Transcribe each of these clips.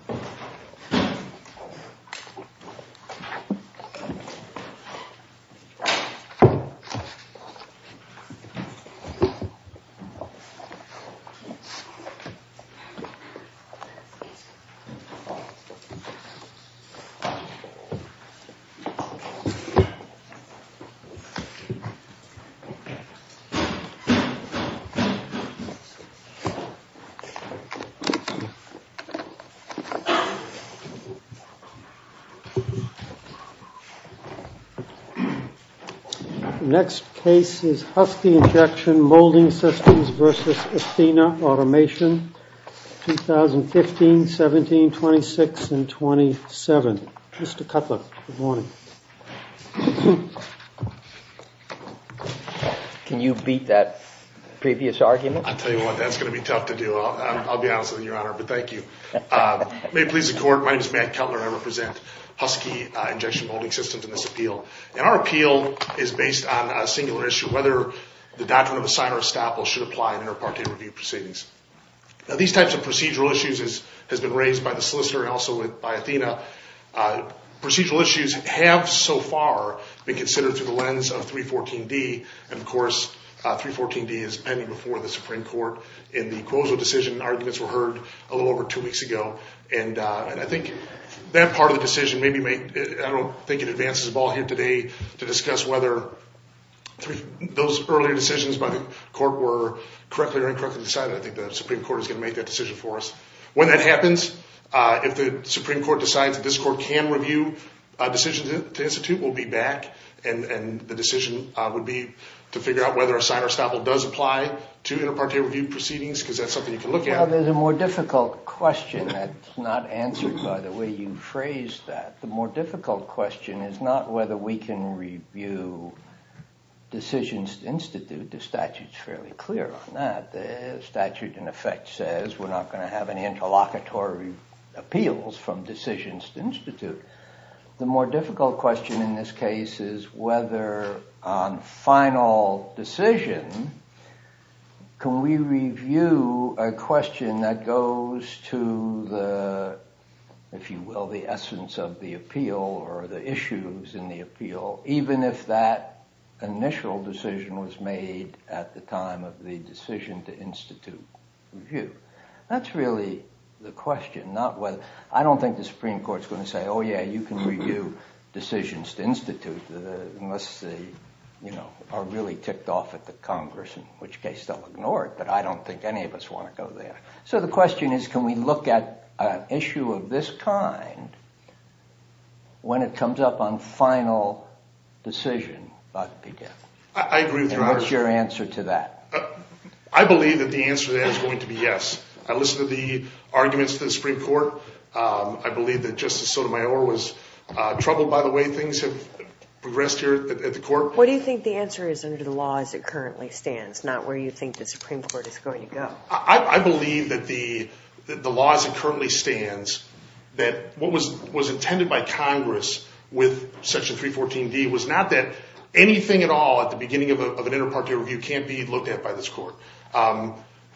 Athena Automation Ltd. Next case is Husky Injection Molding Systems v. Athena Automation 2015, 17, 26, and 27. Mr. Cutler, good morning. Can you beat that previous argument? I'll tell you what, that's going to be tough to do. I'll be honest with you, your honor, but thank you. May it please the court, my name is Matt Cutler and I represent Husky Injection Molding Systems in this appeal. And our appeal is based on a singular issue, whether the doctrine of assign or estoppel should apply in inter-parte review proceedings. Now these types of procedural issues has been raised by the solicitor and also by Athena. Procedural issues have, so far, been considered through the lens of 314D. And of course, 314D is pending before the Supreme Court. In the Cuozo decision, arguments were heard a little over two weeks ago. And I think that part of the decision, I don't think it advances the ball here today to discuss whether those earlier decisions by the court were correctly or incorrectly decided. I think the Supreme Court is going to make that decision for us. When that happens, if the Supreme Court decides that this court can review a decision to institute, we'll be back. And the decision would be to figure out whether assign or estoppel does apply to inter-parte review proceedings, because that's something you can look at. Well, there's a more difficult question that's not answered by the way you phrased that. The more difficult question is not whether we can review decisions to institute. The statute's fairly clear on that. The statute, in effect, says we're not going to have any interlocutory appeals from decisions to institute. The more difficult question in this case is whether, on final decision, can we review a question that goes to the, if you will, the essence of the appeal or the issues in the appeal, even if that initial decision was made at the time of the decision to institute review. That's really the question. I don't think the Supreme Court's going to say, oh, yeah, you can review decisions to institute unless they are really kicked off at the Congress, in which case they'll ignore it. But I don't think any of us want to go there. So the question is, can we look at an issue of this kind when it comes up on final decision about the appeal? I agree with your answer. And what's your answer to that? I believe that the answer to that is going to be yes. I listened to the arguments of the Supreme Court. I believe that Justice Sotomayor was troubled by the way things have progressed here at the court. What do you think the answer is under the law as it currently stands, not where you think the Supreme Court is going to go? I believe that the law as it currently stands, that what was intended by Congress with Section 314D was not that anything at all at the beginning of an inter parte review can't be looked at by this court.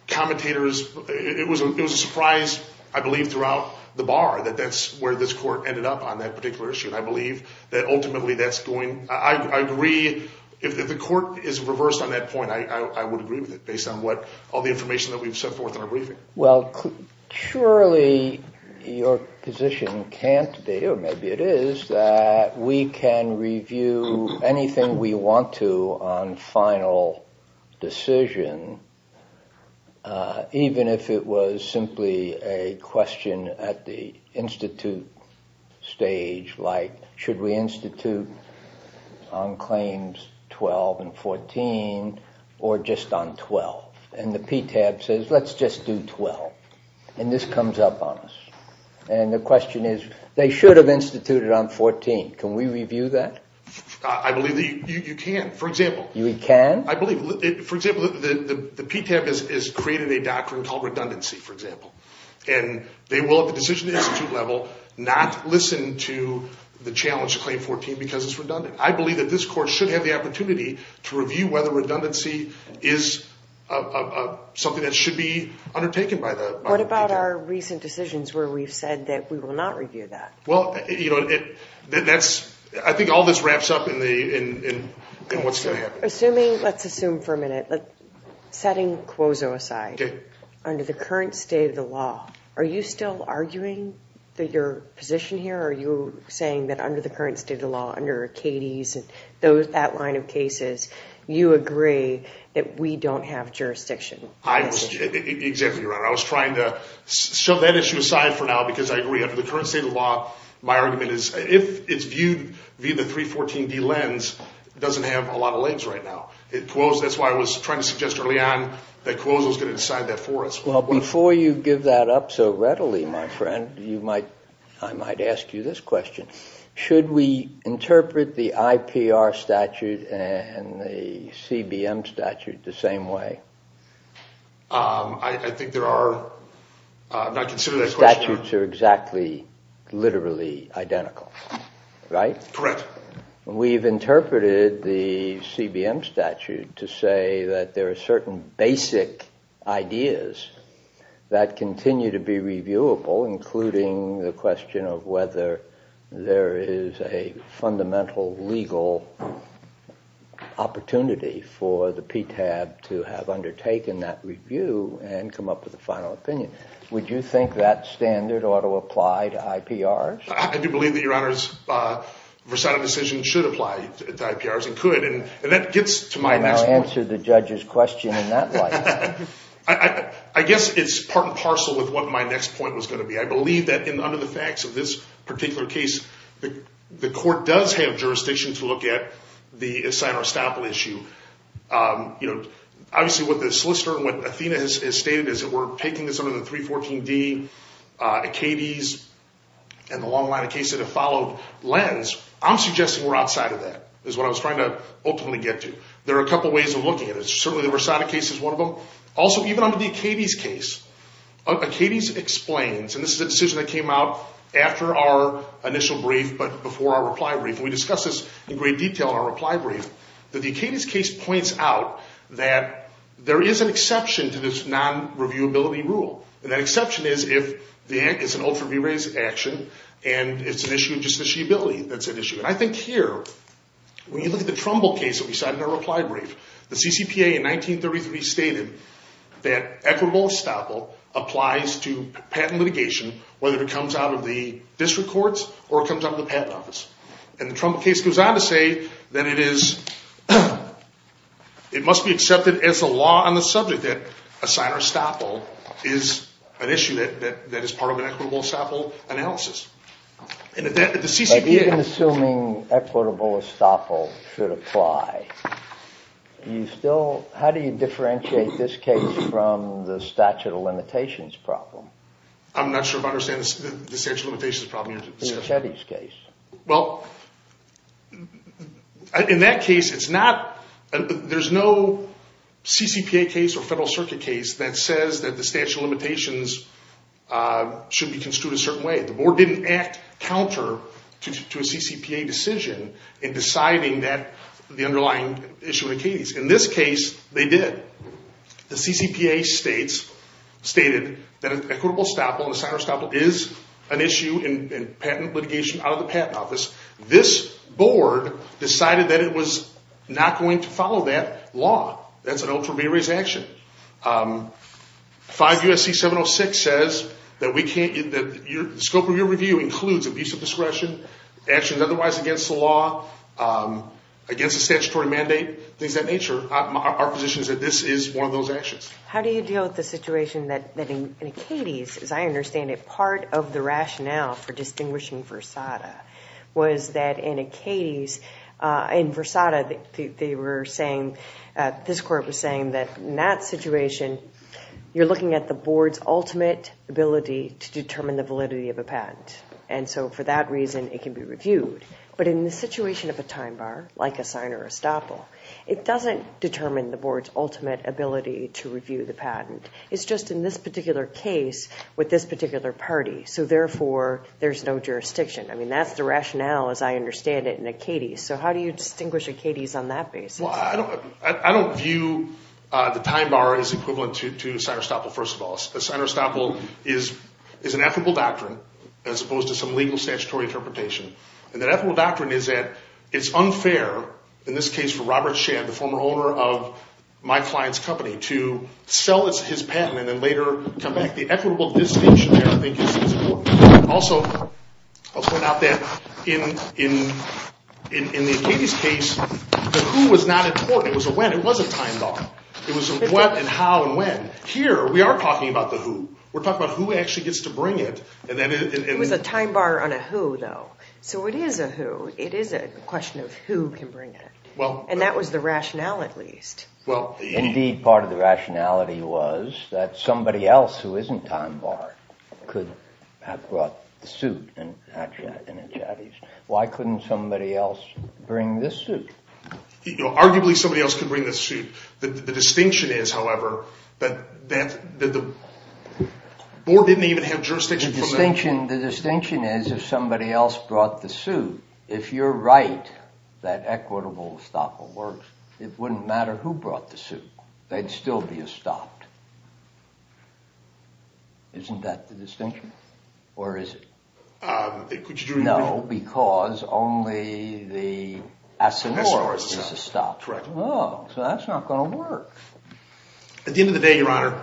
Commentators, it was a surprise, I believe, throughout the bar that that's where this court ended up on that particular issue. And I believe that ultimately that's going, I agree, if the court is reversed on that point, I would agree with it, based on what all the information that we've set forth in our briefing. Well, surely your position can't be, or maybe it is, that we can review anything we want to on final decision, even if it was simply a question at the institute stage like, should we institute on claims 12 and 14 or just on 12? And the PTAB says, let's just do 12. And this comes up on us. And the question is, they should have instituted on 14. Can we review that? I believe that you can, for example. You can? I believe. For example, the PTAB has created a doctrine called redundancy, for example. And they will, at the decision institute level, not listen to the challenge to claim 14 because it's redundant. I believe that this court should have the opportunity to review whether redundancy is something that should be undertaken by the PTAB. What about our recent decisions where we've said that we will not review that? Well, I think all this wraps up in what's going to happen. Assuming, let's assume for a minute, setting COSO aside, under the current state of the law, are you still arguing your position here? Are you saying that under the current state of the law, under Acades and that line of cases, you agree that we don't have jurisdiction? Exactly, Your Honor. I was trying to shove that issue aside for now because I agree. Under the current state of the law, my argument is if it's viewed via the 314D lens, it doesn't have a lot of legs right now. That's why I was trying to suggest early on that COSO is going to decide that for us. Well, before you give that up so readily, my friend, I might ask you this question. Should we interpret the IPR statute and the CBM statute the same way? I think there are… Statutes are exactly, literally identical, right? Correct. We've interpreted the CBM statute to say that there are certain basic ideas that continue to be reviewable, including the question of whether there is a fundamental legal opportunity for the PTAB to have undertaken that review and come up with a final opinion. Would you think that standard ought to apply to IPRs? I do believe that, Your Honor, a versatile decision should apply to IPRs and could, and that gets to my next point. I'll answer the judge's question in that light. I guess it's part and parcel with what my next point was going to be. I believe that under the facts of this particular case, the court does have jurisdiction to look at the Sinner-Estoppel issue. Obviously, what the solicitor and what Athena has stated is that we're taking this under the 314D, Acades, and the long line of cases that have followed lens. I'm suggesting we're outside of that is what I was trying to ultimately get to. There are a couple of ways of looking at it. Certainly, the Rosada case is one of them. Also, even under the Acades case, Acades explains, and this is a decision that came out after our initial brief but before our reply brief, and we discussed this in great detail in our reply brief, that the Acades case points out that there is an exception to this non-reviewability rule. That exception is if it's an ultra-v-raised action and it's an issue of justiciability that's at issue. I think here, when you look at the Trumbull case that we cited in our reply brief, the CCPA in 1933 stated that equitable estoppel applies to patent litigation, whether it comes out of the district courts or it comes out of the patent office. The Trumbull case goes on to say that it must be accepted as the law on the subject that a Sinner-Estoppel is an issue that is part of an equitable estoppel analysis. But even assuming equitable estoppel should apply, how do you differentiate this case from the statute of limitations problem? I'm not sure if I understand the statute of limitations problem. In Chetty's case. Well, in that case, there's no CCPA case or Federal Circuit case that says that the statute of limitations should be construed a certain way. The board didn't act counter to a CCPA decision in deciding the underlying issue in a case. In this case, they did. The CCPA stated that equitable estoppel and Sinner-Estoppel is an issue in patent litigation out of the patent office. This board decided that it was not going to follow that law. That's an ultra-v-raised action. 5 U.S.C. 706 says that the scope of your review includes abuse of discretion, actions otherwise against the law, against a statutory mandate, things of that nature. Our position is that this is one of those actions. How do you deal with the situation that in Acades, as I understand it, part of the rationale for distinguishing Versada was that in Acades, in Versada, they were saying, this court was saying that in that situation, you're looking at the board's ultimate ability to determine the validity of a patent. And so for that reason, it can be reviewed. But in the situation of a time bar, like a Sinner-Estoppel, it doesn't determine the board's ultimate ability to review the patent. It's just in this particular case with this particular party. So therefore, there's no jurisdiction. I mean, that's the rationale, as I understand it, in Acades. So how do you distinguish Acades on that basis? Well, I don't view the time bar as equivalent to Sinner-Estoppel, first of all. Sinner-Estoppel is an equitable doctrine as opposed to some legal statutory interpretation. And that ethical doctrine is that it's unfair, in this case for Robert Shand, the former owner of my client's company, to sell his patent and then later come back. The equitable distinction there, I think, is important. Also, I'll point out that in the Acades case, the who was not important. It was a when. It was a time bar. It was a what and how and when. Here, we are talking about the who. We're talking about who actually gets to bring it. It was a time bar on a who, though. So it is a who. And that was the rationale, at least. Indeed, part of the rationality was that somebody else who isn't time bar could have brought the suit in the Acades. Why couldn't somebody else bring this suit? Arguably, somebody else could bring this suit. The distinction is, however, that the board didn't even have jurisdiction. The distinction is if somebody else brought the suit, if you're right that equitable Estoppel works, it wouldn't matter who brought the suit. They'd still be Estoppel. Isn't that the distinction? Or is it? No, because only the Assignore is Estoppel. Oh, so that's not going to work. At the end of the day, Your Honor,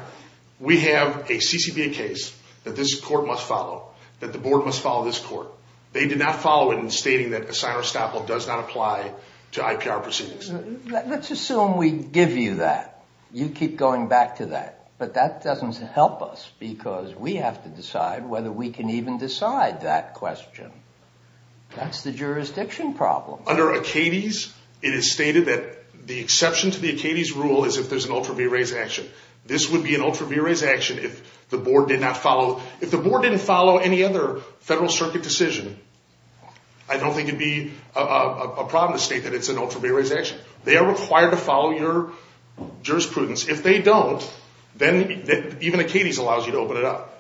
we have a CCBA case that this court must follow, that the board must follow this court. They did not follow it in stating that Assignore-Estoppel does not apply to IPR proceedings. Let's assume we give you that. You keep going back to that. But that doesn't help us because we have to decide whether we can even decide that question. That's the jurisdiction problem. Under Acades, it is stated that the exception to the Acades rule is if there's an ultra vires action. This would be an ultra vires action if the board did not follow. Any other federal circuit decision, I don't think it would be a problem to state that it's an ultra vires action. They are required to follow your jurisprudence. If they don't, then even Acades allows you to open it up.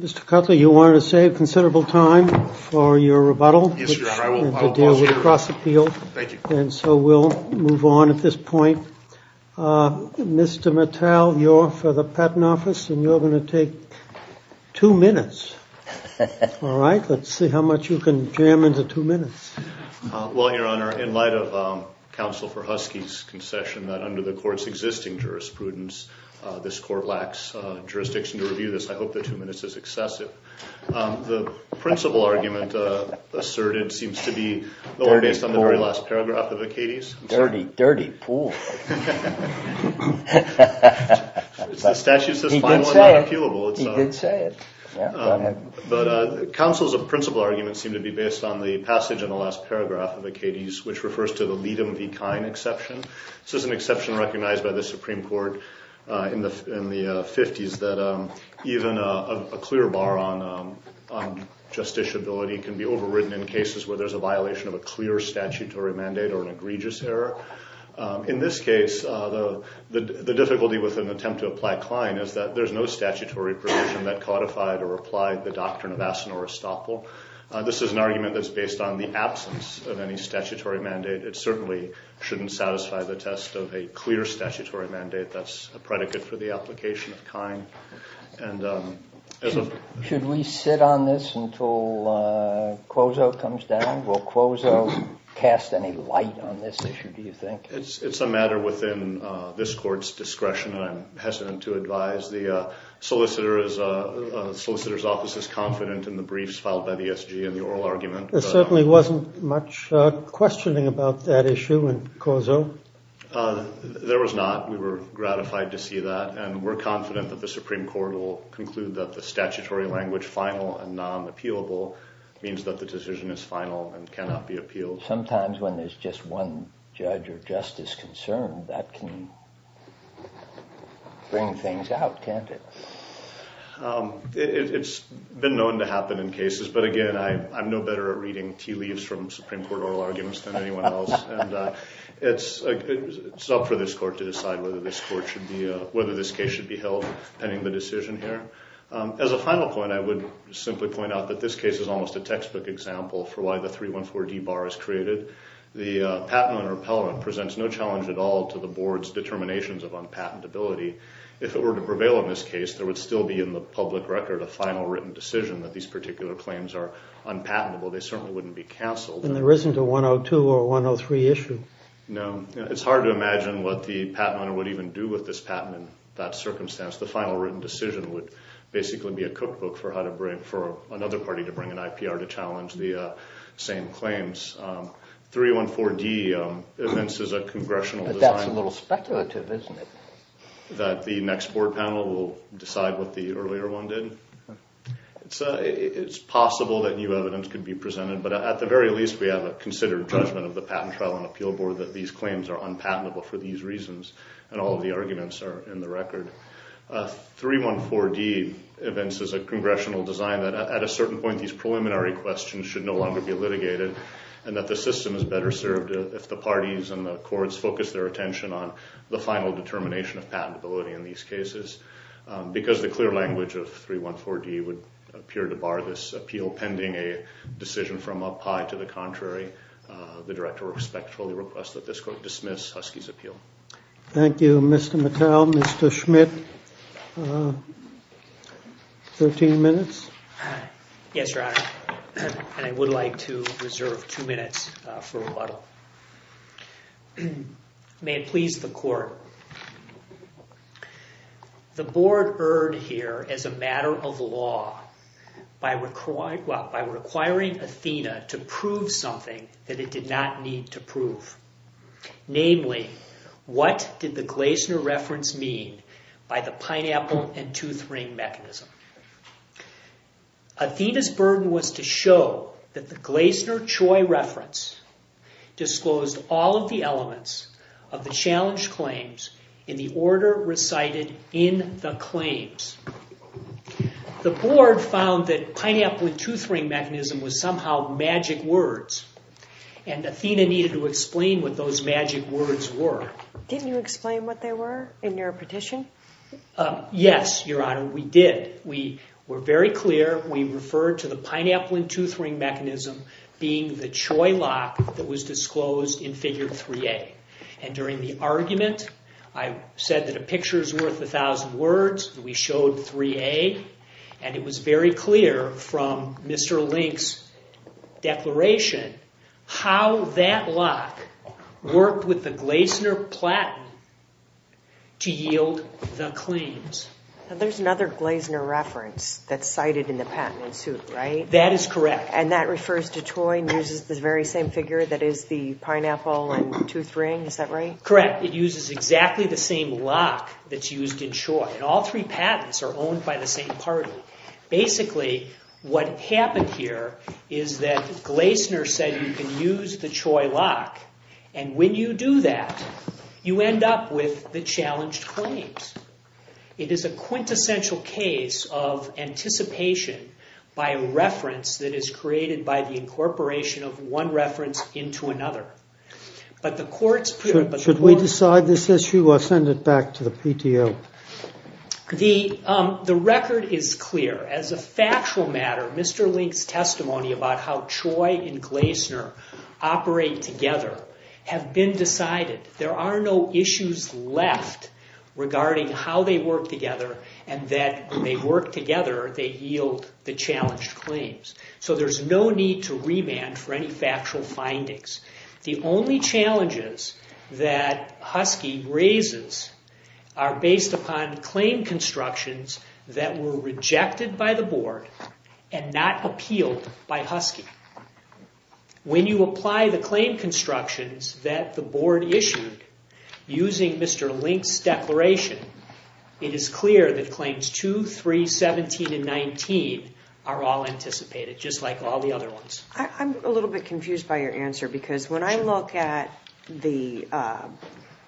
Mr. Cutler, you wanted to save considerable time for your rebuttal. Yes, Your Honor, I will. And to deal with the cross appeal. Thank you. And so we'll move on at this point. Mr. Mattel, you're for the patent office and you're going to take two minutes. All right. Let's see how much you can jam into two minutes. Well, Your Honor, in light of counsel for Husky's concession that under the court's existing jurisprudence, this court lacks jurisdiction to review this. I hope the two minutes is excessive. The principal argument asserted seems to be based on the very last paragraph of Acades. Dirty, dirty pool. The statute says fine when not appealable. He did say it. He did say it. Yeah, go ahead. But counsel's principal argument seemed to be based on the passage in the last paragraph of Acades, which refers to the Liedem v. Kine exception. This is an exception recognized by the Supreme Court in the 50s that even a clear bar on justiciability can be overridden in cases where there's a violation of a clear statutory mandate or an egregious error. In this case, the difficulty with an attempt to apply Kline is that there's no statutory provision that codified or applied the doctrine of Asinore Stoppel. This is an argument that's based on the absence of any statutory mandate. It certainly shouldn't satisfy the test of a clear statutory mandate. That's a predicate for the application of Kine. Should we sit on this until Kozo comes down? Will Kozo cast any light on this issue, do you think? It's a matter within this court's discretion, and I'm hesitant to advise. The solicitor's office is confident in the briefs filed by the SG and the oral argument. There certainly wasn't much questioning about that issue in Kozo. There was not. We were gratified to see that. We're confident that the Supreme Court will conclude that the statutory language, final and non-appealable, means that the decision is final and cannot be appealed. Sometimes when there's just one judge or justice concerned, that can bring things out, can't it? It's been known to happen in cases. But again, I'm no better at reading tea leaves from Supreme Court oral arguments than anyone else. It's up for this court to decide whether this case should be held pending the decision here. As a final point, I would simply point out that this case is almost a textbook example for why the 314D bar is created. The patent on repellent presents no challenge at all to the Board's determinations of unpatentability. If it were to prevail in this case, there would still be in the public record a final written decision that these particular claims are unpatentable. They certainly wouldn't be canceled. And there isn't a 102 or 103 issue? No. It's hard to imagine what the patent owner would even do with this patent in that circumstance. The final written decision would basically be a cookbook for another party to bring an IPR to challenge the same claims. 314D evinces a congressional design. But that's a little speculative, isn't it? That the next board panel will decide what the earlier one did. It's possible that new evidence could be presented. But at the very least, we have a considered judgment of the Patent Trial and Appeal Board that these claims are unpatentable for these reasons. And all of the arguments are in the record. 314D evinces a congressional design that at a certain point, these preliminary questions should no longer be litigated and that the system is better served if the parties and the courts focus their attention on the final determination of patentability in these cases. Because the clear language of 314D would appear to bar this appeal pending a decision from up high to the contrary, the director respectfully requests that this court dismiss Husky's appeal. Thank you, Mr. Mattel. Mr. Schmidt, 13 minutes? Yes, Your Honor. And I would like to reserve two minutes for rebuttal. May it please the court. The board erred here as a matter of law by requiring Athena to prove something that it did not need to prove. Namely, what did the Gleisner reference mean by the pineapple and tooth ring mechanism? Athena's burden was to show that the Gleisner-Choi reference disclosed all of the elements of the challenged claims in the order recited in the claims. The board found that pineapple and tooth ring mechanism was somehow magic words and Athena needed to explain what those magic words were. Didn't you explain what they were in your petition? Yes, Your Honor, we did. We were very clear. We referred to the pineapple and tooth ring mechanism being the Choi lock that was disclosed in figure 3A. And during the argument, I said that a picture is worth a thousand words. We showed 3A and it was very clear from Mr. Link's declaration how that lock worked with the Gleisner platen to yield the claims. There's another Gleisner reference that's cited in the patent in suit, right? That is correct. And that refers to Choi and uses the very same figure that is the pineapple and tooth ring, is that right? Correct. It uses exactly the same lock that's used in Choi. And all three patents are owned by the same party. Basically, what happened here is that Gleisner said you can use the Choi lock and when you do that, you end up with the challenged claims. It is a quintessential case of anticipation by a reference that is created by the incorporation of one reference into another. Should we decide this issue or send it back to the PTO? The record is clear. As a factual matter, Mr. Link's testimony about how Choi and Gleisner operate together have been decided. There are no issues left regarding how they work together and that when they work together, they yield the challenged claims. So there's no need to remand for any factual findings. The only challenges that Husky raises are based upon claim constructions that were rejected by the Board and not appealed by Husky. When you apply the claim constructions that the Board issued using Mr. Link's declaration, it is clear that claims 2, 3, 17, and 19 are all anticipated, just like all the other ones. I'm a little bit confused by your answer because when I look at the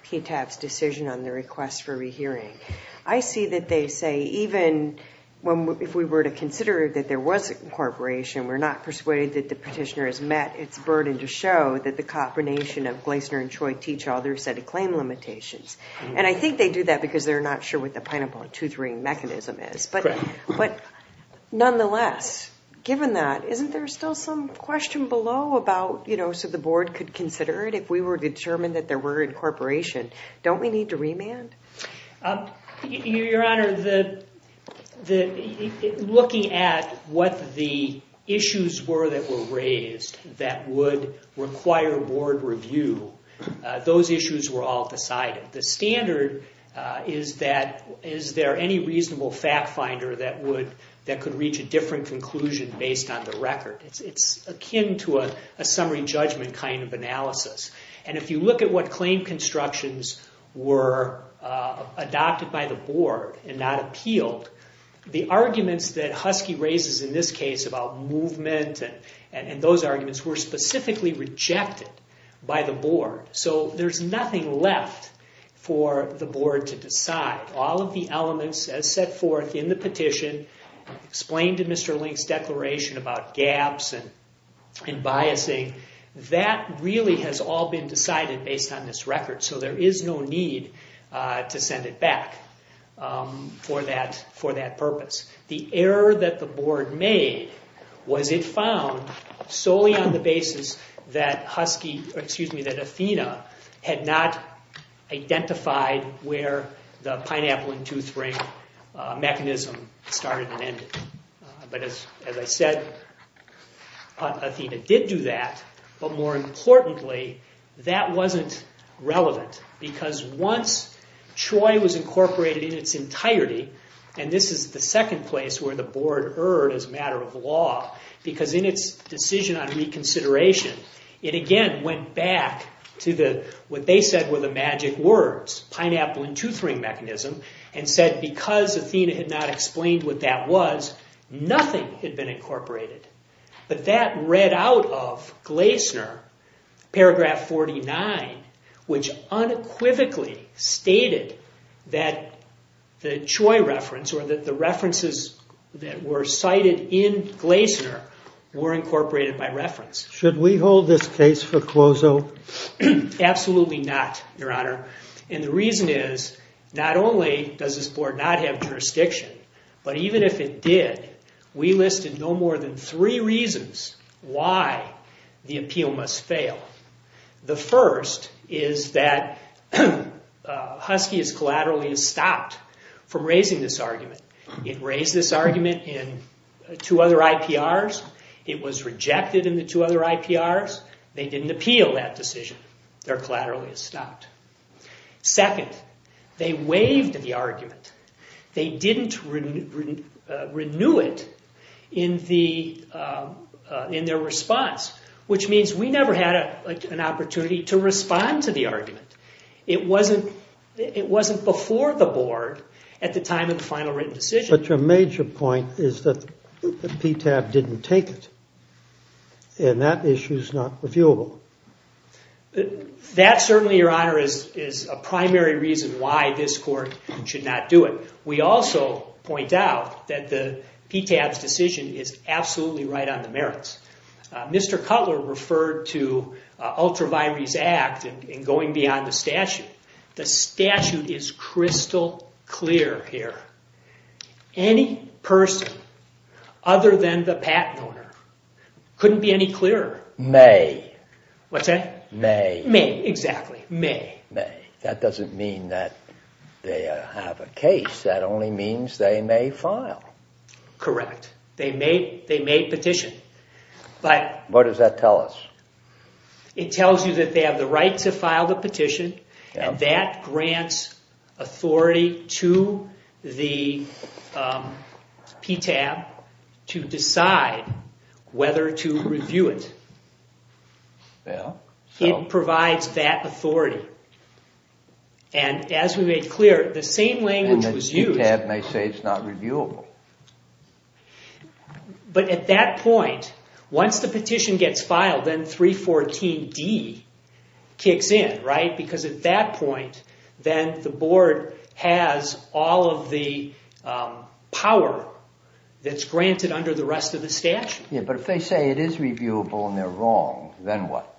PTAB's decision on the request for rehearing, I see that they say even if we were to consider that there was incorporation, we're not persuaded that the petitioner has met its burden to show that the combination of Gleisner and Choi teach all their set of claim limitations. And I think they do that because they're not sure what the pineapple and tooth ring mechanism is. But nonetheless, given that, isn't there still some question below about, you know, so the Board could consider it if we were determined that there were incorporation? Don't we need to remand? Your Honor, looking at what the issues were that were raised that would require Board review, those issues were all decided. The standard is that is there any reasonable fact finder that could reach a different conclusion based on the record. It's akin to a summary judgment kind of analysis. And if you look at what claim constructions were adopted by the Board and not appealed, the arguments that Husky raises in this case about movement and those arguments were specifically rejected by the Board. So there's nothing left for the Board to decide. All of the elements as set forth in the petition, explained in Mr. Link's declaration about gaps and biasing, that really has all been decided based on this record. So there is no need to send it back for that purpose. The error that the Board made was it found solely on the basis that Husky, excuse me, that Athena had not identified where the pineapple and tooth ring mechanism started and ended. But as I said, Athena did do that, but more importantly, that wasn't relevant. Because once Troy was incorporated in its entirety, and this is the second place where the Board erred as a matter of law, because in its decision on reconsideration, it again went back to what they said were the magic words, pineapple and tooth ring mechanism, and said because Athena had not explained what that was, nothing had been incorporated. But that read out of Gleisner, paragraph 49, which unequivocally stated that the Troy reference or that the references that were cited in Gleisner were incorporated by reference. Should we hold this case for closeout? Absolutely not, Your Honor. And the reason is, not only does this Board not have jurisdiction, but even if it did, we listed no more than three reasons why the appeal must fail. The first is that Husky has collaterally stopped from raising this argument. It raised this argument in two other IPRs. It was rejected in the two other IPRs. They didn't appeal that decision. They're collaterally stopped. Second, they waived the argument. They didn't renew it in their response, which means we never had an opportunity to respond to the argument. It wasn't before the Board at the time of the final written decision. But your major point is that the PTAB didn't take it, and that issue is not reviewable. That, certainly, Your Honor, is a primary reason why this Court should not do it. We also point out that the PTAB's decision is absolutely right on the merits. Mr. Cutler referred to Ultravires Act and going beyond the statute. The statute is crystal clear here. Any person other than the patent owner couldn't be any clearer. May. What's that? May. May, exactly. May. May. That doesn't mean that they have a case. That only means they may file. Correct. They may petition. What does that tell us? It tells you that they have the right to file the petition, and that grants authority to the PTAB to decide whether to review it. It provides that authority. As we made clear, the same language was used. The PTAB may say it's not reviewable. But at that point, once the petition gets filed, then 314D kicks in, right? Because at that point, then the Board has all of the power that's granted under the rest of the statute. But if they say it is reviewable and they're wrong, then what?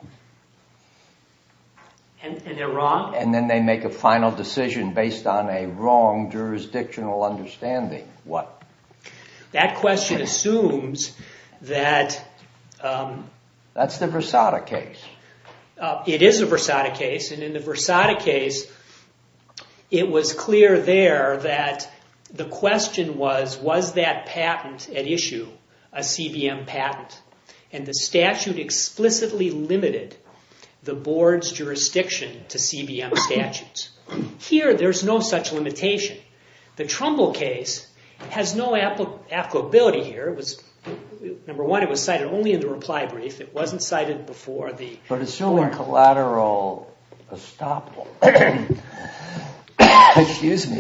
And they're wrong? And then they make a final decision based on a wrong jurisdictional understanding. What? That question assumes that... That's the Versada case. It is a Versada case. And in the Versada case, it was clear there that the question was, was that patent at issue a CBM patent? And the statute explicitly limited the Board's jurisdiction to CBM statutes. Here, there's no such limitation. The Trumbull case has no applicability here. Number one, it was cited only in the reply brief. It wasn't cited before the... But assuming collateral estoppel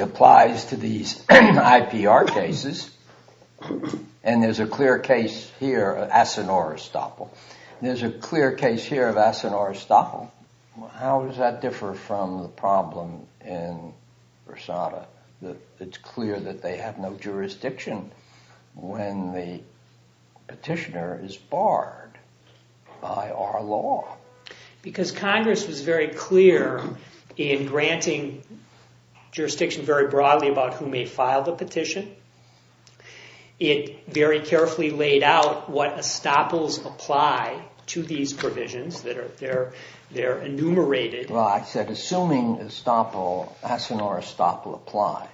applies to these IPR cases, and there's a clear case here of Asinor estoppel. There's a clear case here of Asinor estoppel. How does that differ from the problem in Versada? It's clear that they have no jurisdiction when the petitioner is barred by our law. Because Congress was very clear in granting jurisdiction very broadly about who may file the petition. It very carefully laid out what estoppels apply to these provisions that are enumerated. Well, I said, assuming Asinor estoppel applies,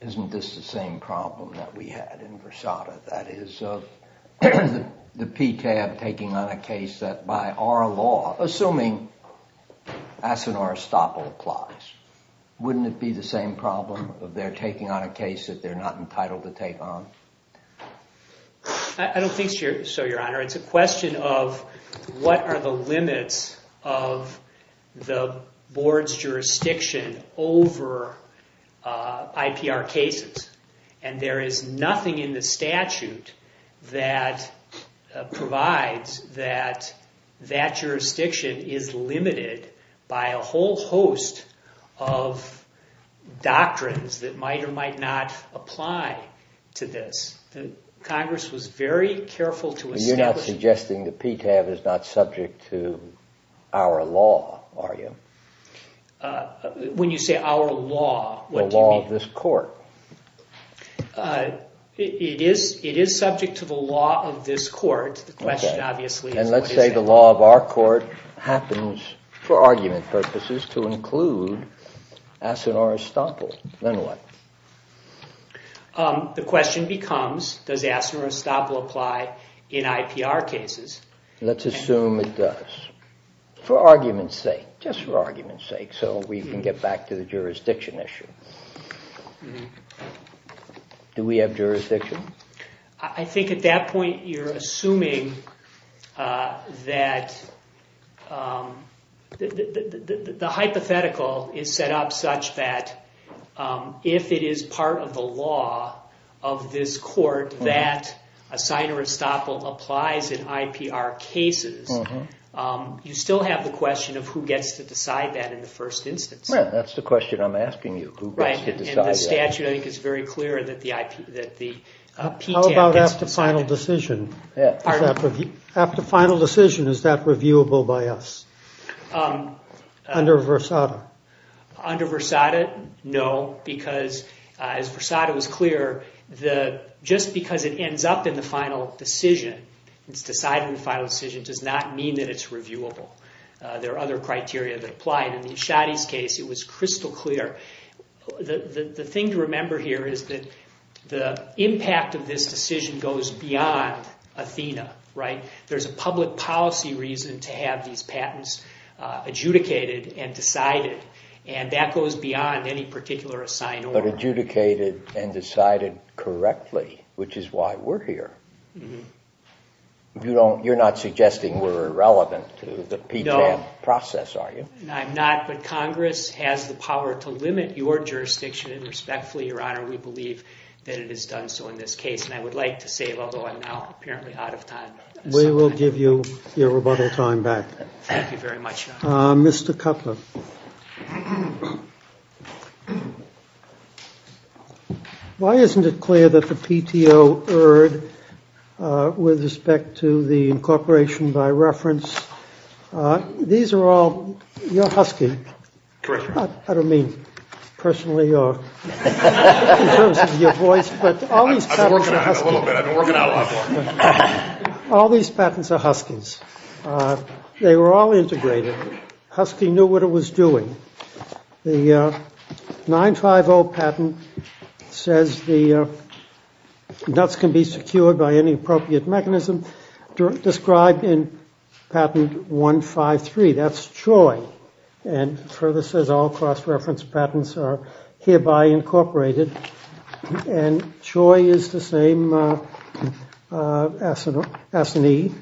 isn't this the same problem that we had in Versada? That is, the PTAB taking on a case that by our law, assuming Asinor estoppel applies, wouldn't it be the same problem of their taking on a case that they're not entitled to take on? I don't think so, Your Honor. It's a question of what are the limits of the board's jurisdiction over IPR cases. And there is nothing in the statute that provides that that jurisdiction is limited by a whole host of doctrines that might or might not apply to this. Congress was very careful to establish… You're not suggesting the PTAB is not subject to our law, are you? When you say our law, what do you mean? The law of this court. It is subject to the law of this court. The question, obviously, is what is that law? And let's say the law of our court happens, for argument purposes, to include Asinor estoppel. Then what? The question becomes, does Asinor estoppel apply in IPR cases? Let's assume it does, for argument's sake, just for argument's sake, so we can get back to the jurisdiction issue. Do we have jurisdiction? I think at that point you're assuming that the hypothetical is set up such that if it is part of the law of this court that Asinor estoppel applies in IPR cases, you still have the question of who gets to decide that in the first instance. That's the question I'm asking you, who gets to decide that. Right, and the statute, I think, is very clear that the PTAB gets to decide that. How about after final decision? After final decision, is that reviewable by us under Versada? Under Versada, no, because, as Versada was clear, just because it ends up in the final decision, it's decided in the final decision, does not mean that it's reviewable. There are other criteria that apply. In the Ashadi's case, it was crystal clear. The thing to remember here is that the impact of this decision goes beyond Athena. There's a public policy reason to have these patents adjudicated and decided, and that goes beyond any particular Asinor. But adjudicated and decided correctly, which is why we're here. You're not suggesting we're irrelevant to the PTAB process, are you? No, I'm not, but Congress has the power to limit your jurisdiction, and respectfully, Your Honor, we believe that it has done so in this case. And I would like to say, although I'm now apparently out of time. We will give you your rebuttal time back. Thank you very much, Your Honor. Mr. Cutler. Why isn't it clear that the PTO erred with respect to the incorporation by reference? These are all your husky. I don't mean personally or in terms of your voice, but all these patents are huskies. They were all integrated. Husky knew what it was doing. The 950 patent says the nuts can be secured by any appropriate mechanism. Described in patent 153, that's Troy, and further says all cross-reference patents are hereby incorporated. And Troy is the same as an E.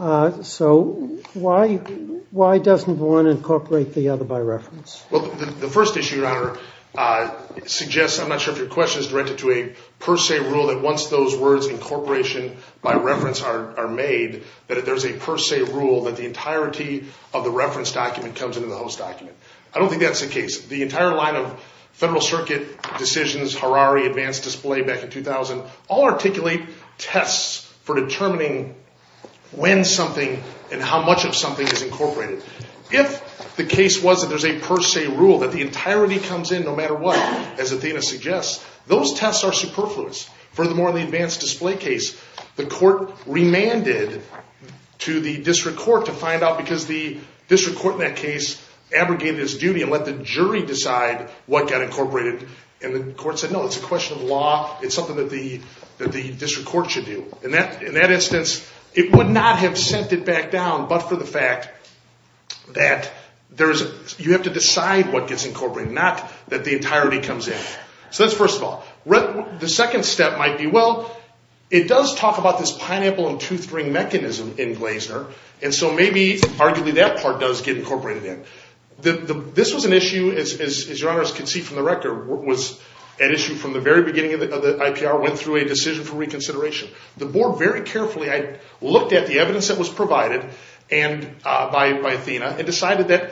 So why doesn't one incorporate the other by reference? Well, the first issue, Your Honor, suggests, I'm not sure if your question is directed to a per se rule, that once those words incorporation by reference are made, that there's a per se rule that the entirety of the reference document comes into the host document. I don't think that's the case. The entire line of Federal Circuit decisions, Harari, advanced display back in 2000, all articulate tests for determining when something and how much of something is incorporated. If the case was that there's a per se rule, that the entirety comes in no matter what, as Athena suggests, those tests are superfluous. Furthermore, in the advanced display case, the court remanded to the district court to find out, because the district court in that case abrogated its duty and let the jury decide what got incorporated. And the court said, no, it's a question of law. It's something that the district court should do. In that instance, it would not have sent it back down, but for the fact that you have to decide what gets incorporated, not that the entirety comes in. So that's first of all. The second step might be, well, it does talk about this pineapple and tooth ring mechanism in Glazer, and so maybe, arguably, that part does get incorporated in. This was an issue, as your honors can see from the record, was an issue from the very beginning of the IPR, went through a decision for reconsideration. The board very carefully looked at the evidence that was provided by Athena and decided that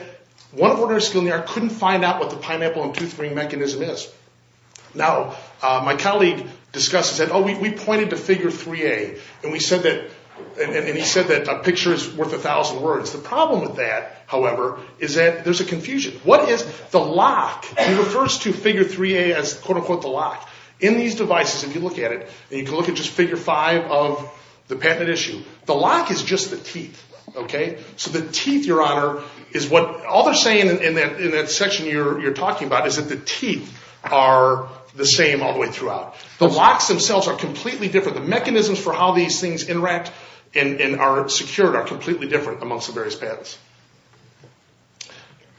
one of the ordinary skill in the art couldn't find out what the pineapple and tooth ring mechanism is. Now, my colleague discussed and said, oh, we pointed to figure 3A, and he said that a picture is worth a thousand words. The problem with that, however, is that there's a confusion. What is the lock? He refers to figure 3A as, quote, unquote, the lock. In these devices, if you look at it, and you can look at just figure 5 of the patent issue, the lock is just the teeth. So the teeth, your honor, is what all they're saying in that section you're talking about is that the teeth are the same all the way throughout. The locks themselves are completely different. The mechanisms for how these things interact and are secured are completely different amongst the various patents.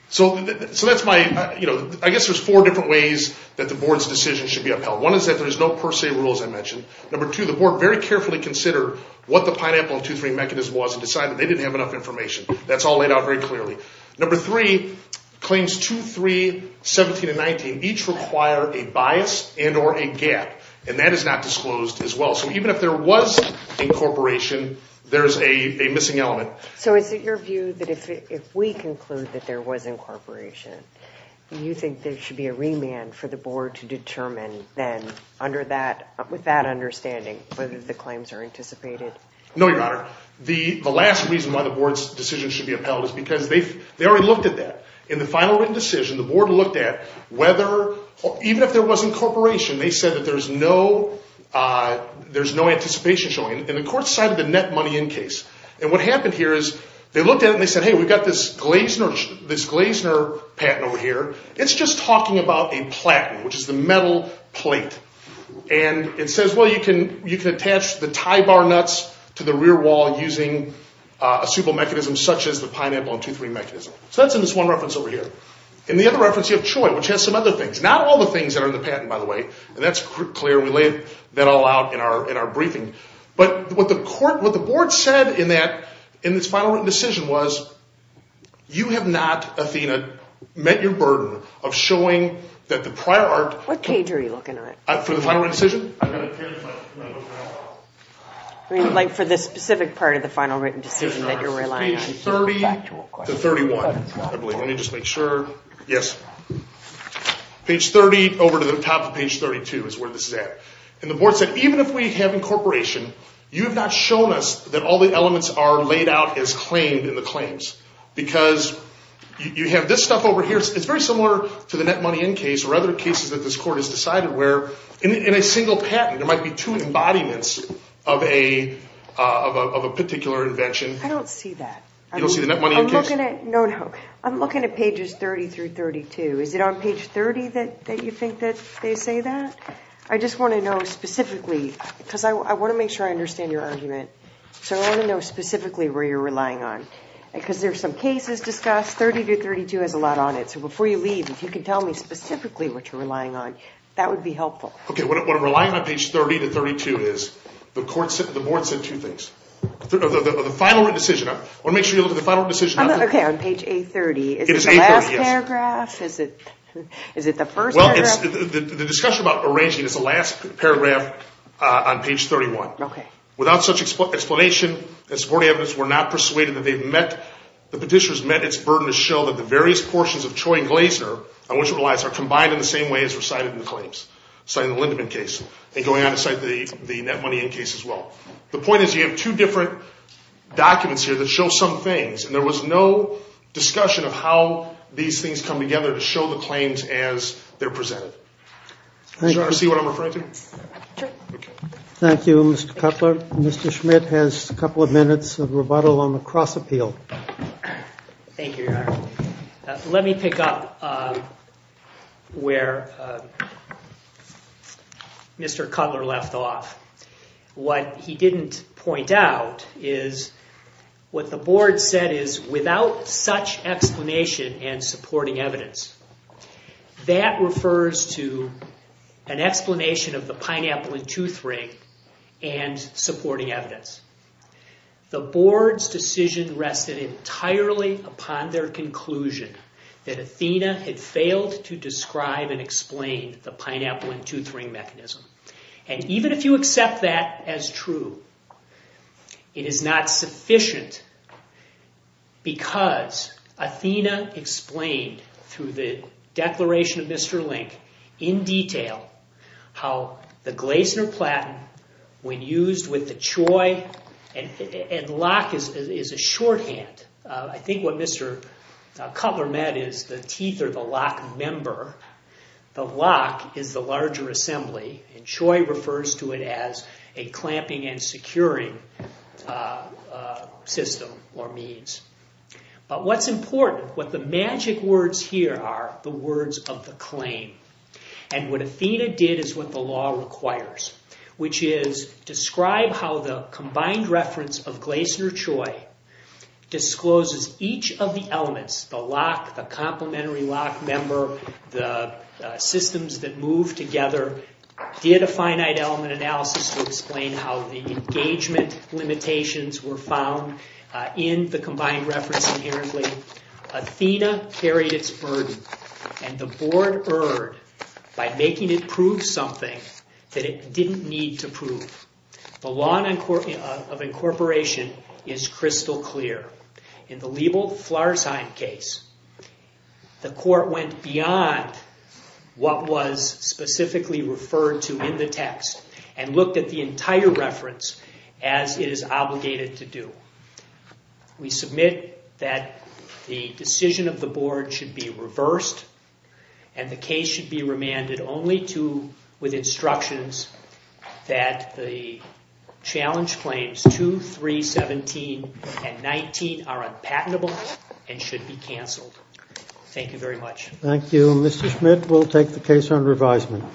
So that's my, you know, I guess there's four different ways that the board's decision should be upheld. One is that there's no per se rules I mentioned. Number two, the board very carefully considered what the pineapple and tooth ring mechanism was and decided they didn't have enough information. That's all laid out very clearly. Number three, claims 2, 3, 17, and 19 each require a bias and or a gap, and that is not disclosed as well. So even if there was incorporation, there's a missing element. So is it your view that if we conclude that there was incorporation, you think there should be a remand for the board to determine then with that understanding whether the claims are anticipated? No, your honor. The last reason why the board's decision should be upheld is because they already looked at that. In the final written decision, the board looked at whether, even if there was incorporation, they said that there's no anticipation showing. And the court cited the net money in case. And what happened here is they looked at it and they said, hey, we've got this Glazner patent over here. It's just talking about a platen, which is the metal plate. And it says, well, you can attach the tie bar nuts to the rear wall using a simple mechanism such as the pineapple and tooth ring mechanism. So that's in this one reference over here. In the other reference, you have CHOI, which has some other things. Not all the things that are in the patent, by the way. And that's clear. We laid that all out in our briefing. But what the board said in this final written decision was, you have not, Athena, met your burden of showing that the prior art. What page are you looking at? For the final written decision? Like for the specific part of the final written decision that you're relying on. Page 30 to 31, I believe. Let me just make sure. Yes. Page 30 over to the top of page 32 is where this is at. And the board said, even if we have incorporation, you have not shown us that all the elements are laid out as claimed in the claims. Because you have this stuff over here. It's very similar to the net money in case or other cases that this court has decided where in a single patent, there might be two embodiments of a particular invention. You don't see the net money in case? No, no. I'm looking at pages 30 through 32. Is it on page 30 that you think that they say that? I just want to know specifically, because I want to make sure I understand your argument. So I want to know specifically where you're relying on. Because there's some cases discussed. 30 to 32 has a lot on it. So before you leave, if you can tell me specifically what you're relying on, that would be helpful. Okay. What I'm relying on on page 30 to 32 is the board said two things. The final decision, I want to make sure you look at the final decision. Okay, on page 830. It is 830, yes. Is it the last paragraph? Is it the first paragraph? Well, the discussion about arranging is the last paragraph on page 31. Okay. Without such explanation, the supporting evidence, we're not persuaded that they've met, the petitioners met its burden to show that the various portions of Choi and Glazer, I want you to realize, are combined in the same way as were cited in the claims, cited in the Lindemann case, and going on to cite the net money in case as well. The point is you have two different documents here that show some things, and there was no discussion of how these things come together to show the claims as they're presented. Do you see what I'm referring to? Sure. Okay. Thank you, Mr. Cutler. Mr. Schmidt has a couple of minutes of rebuttal on the cross appeal. Thank you, Your Honor. Let me pick up where Mr. Cutler left off. What he didn't point out is what the board said is, without such explanation and supporting evidence, that refers to an explanation of the pineapple and tooth ring and supporting evidence. The board's decision rested entirely upon their conclusion that Athena had failed to describe and explain the pineapple and tooth ring mechanism. And even if you accept that as true, it is not sufficient because Athena explained through the declaration of Mr. Link, in detail, how the glazen or platen, when used with the choy, and lock is a shorthand. I think what Mr. Cutler meant is the teeth are the lock member. The lock is the larger assembly, and choy refers to it as a clamping and securing system or means. But what's important, what the magic words here are, the words of the claim. And what Athena did is what the law requires, which is describe how the combined reference of glazen or choy discloses each of the elements, the lock, the complementary lock member, the systems that move together, did a finite element analysis to explain how the engagement limitations were found in the combined reference inherently. Athena carried its burden, and the board erred by making it prove something that it didn't need to prove. The law of incorporation is crystal clear. In the Liebel-Flarsheim case, the court went beyond what was specifically referred to in the text and looked at the entire reference as it is obligated to do. We submit that the decision of the board should be reversed, and the case should be remanded only to, with instructions, that the challenge claims 2, 3, 17, and 19 are unpatentable and should be canceled. Thank you very much. Thank you. Mr. Schmidt, we'll take the case on revisement.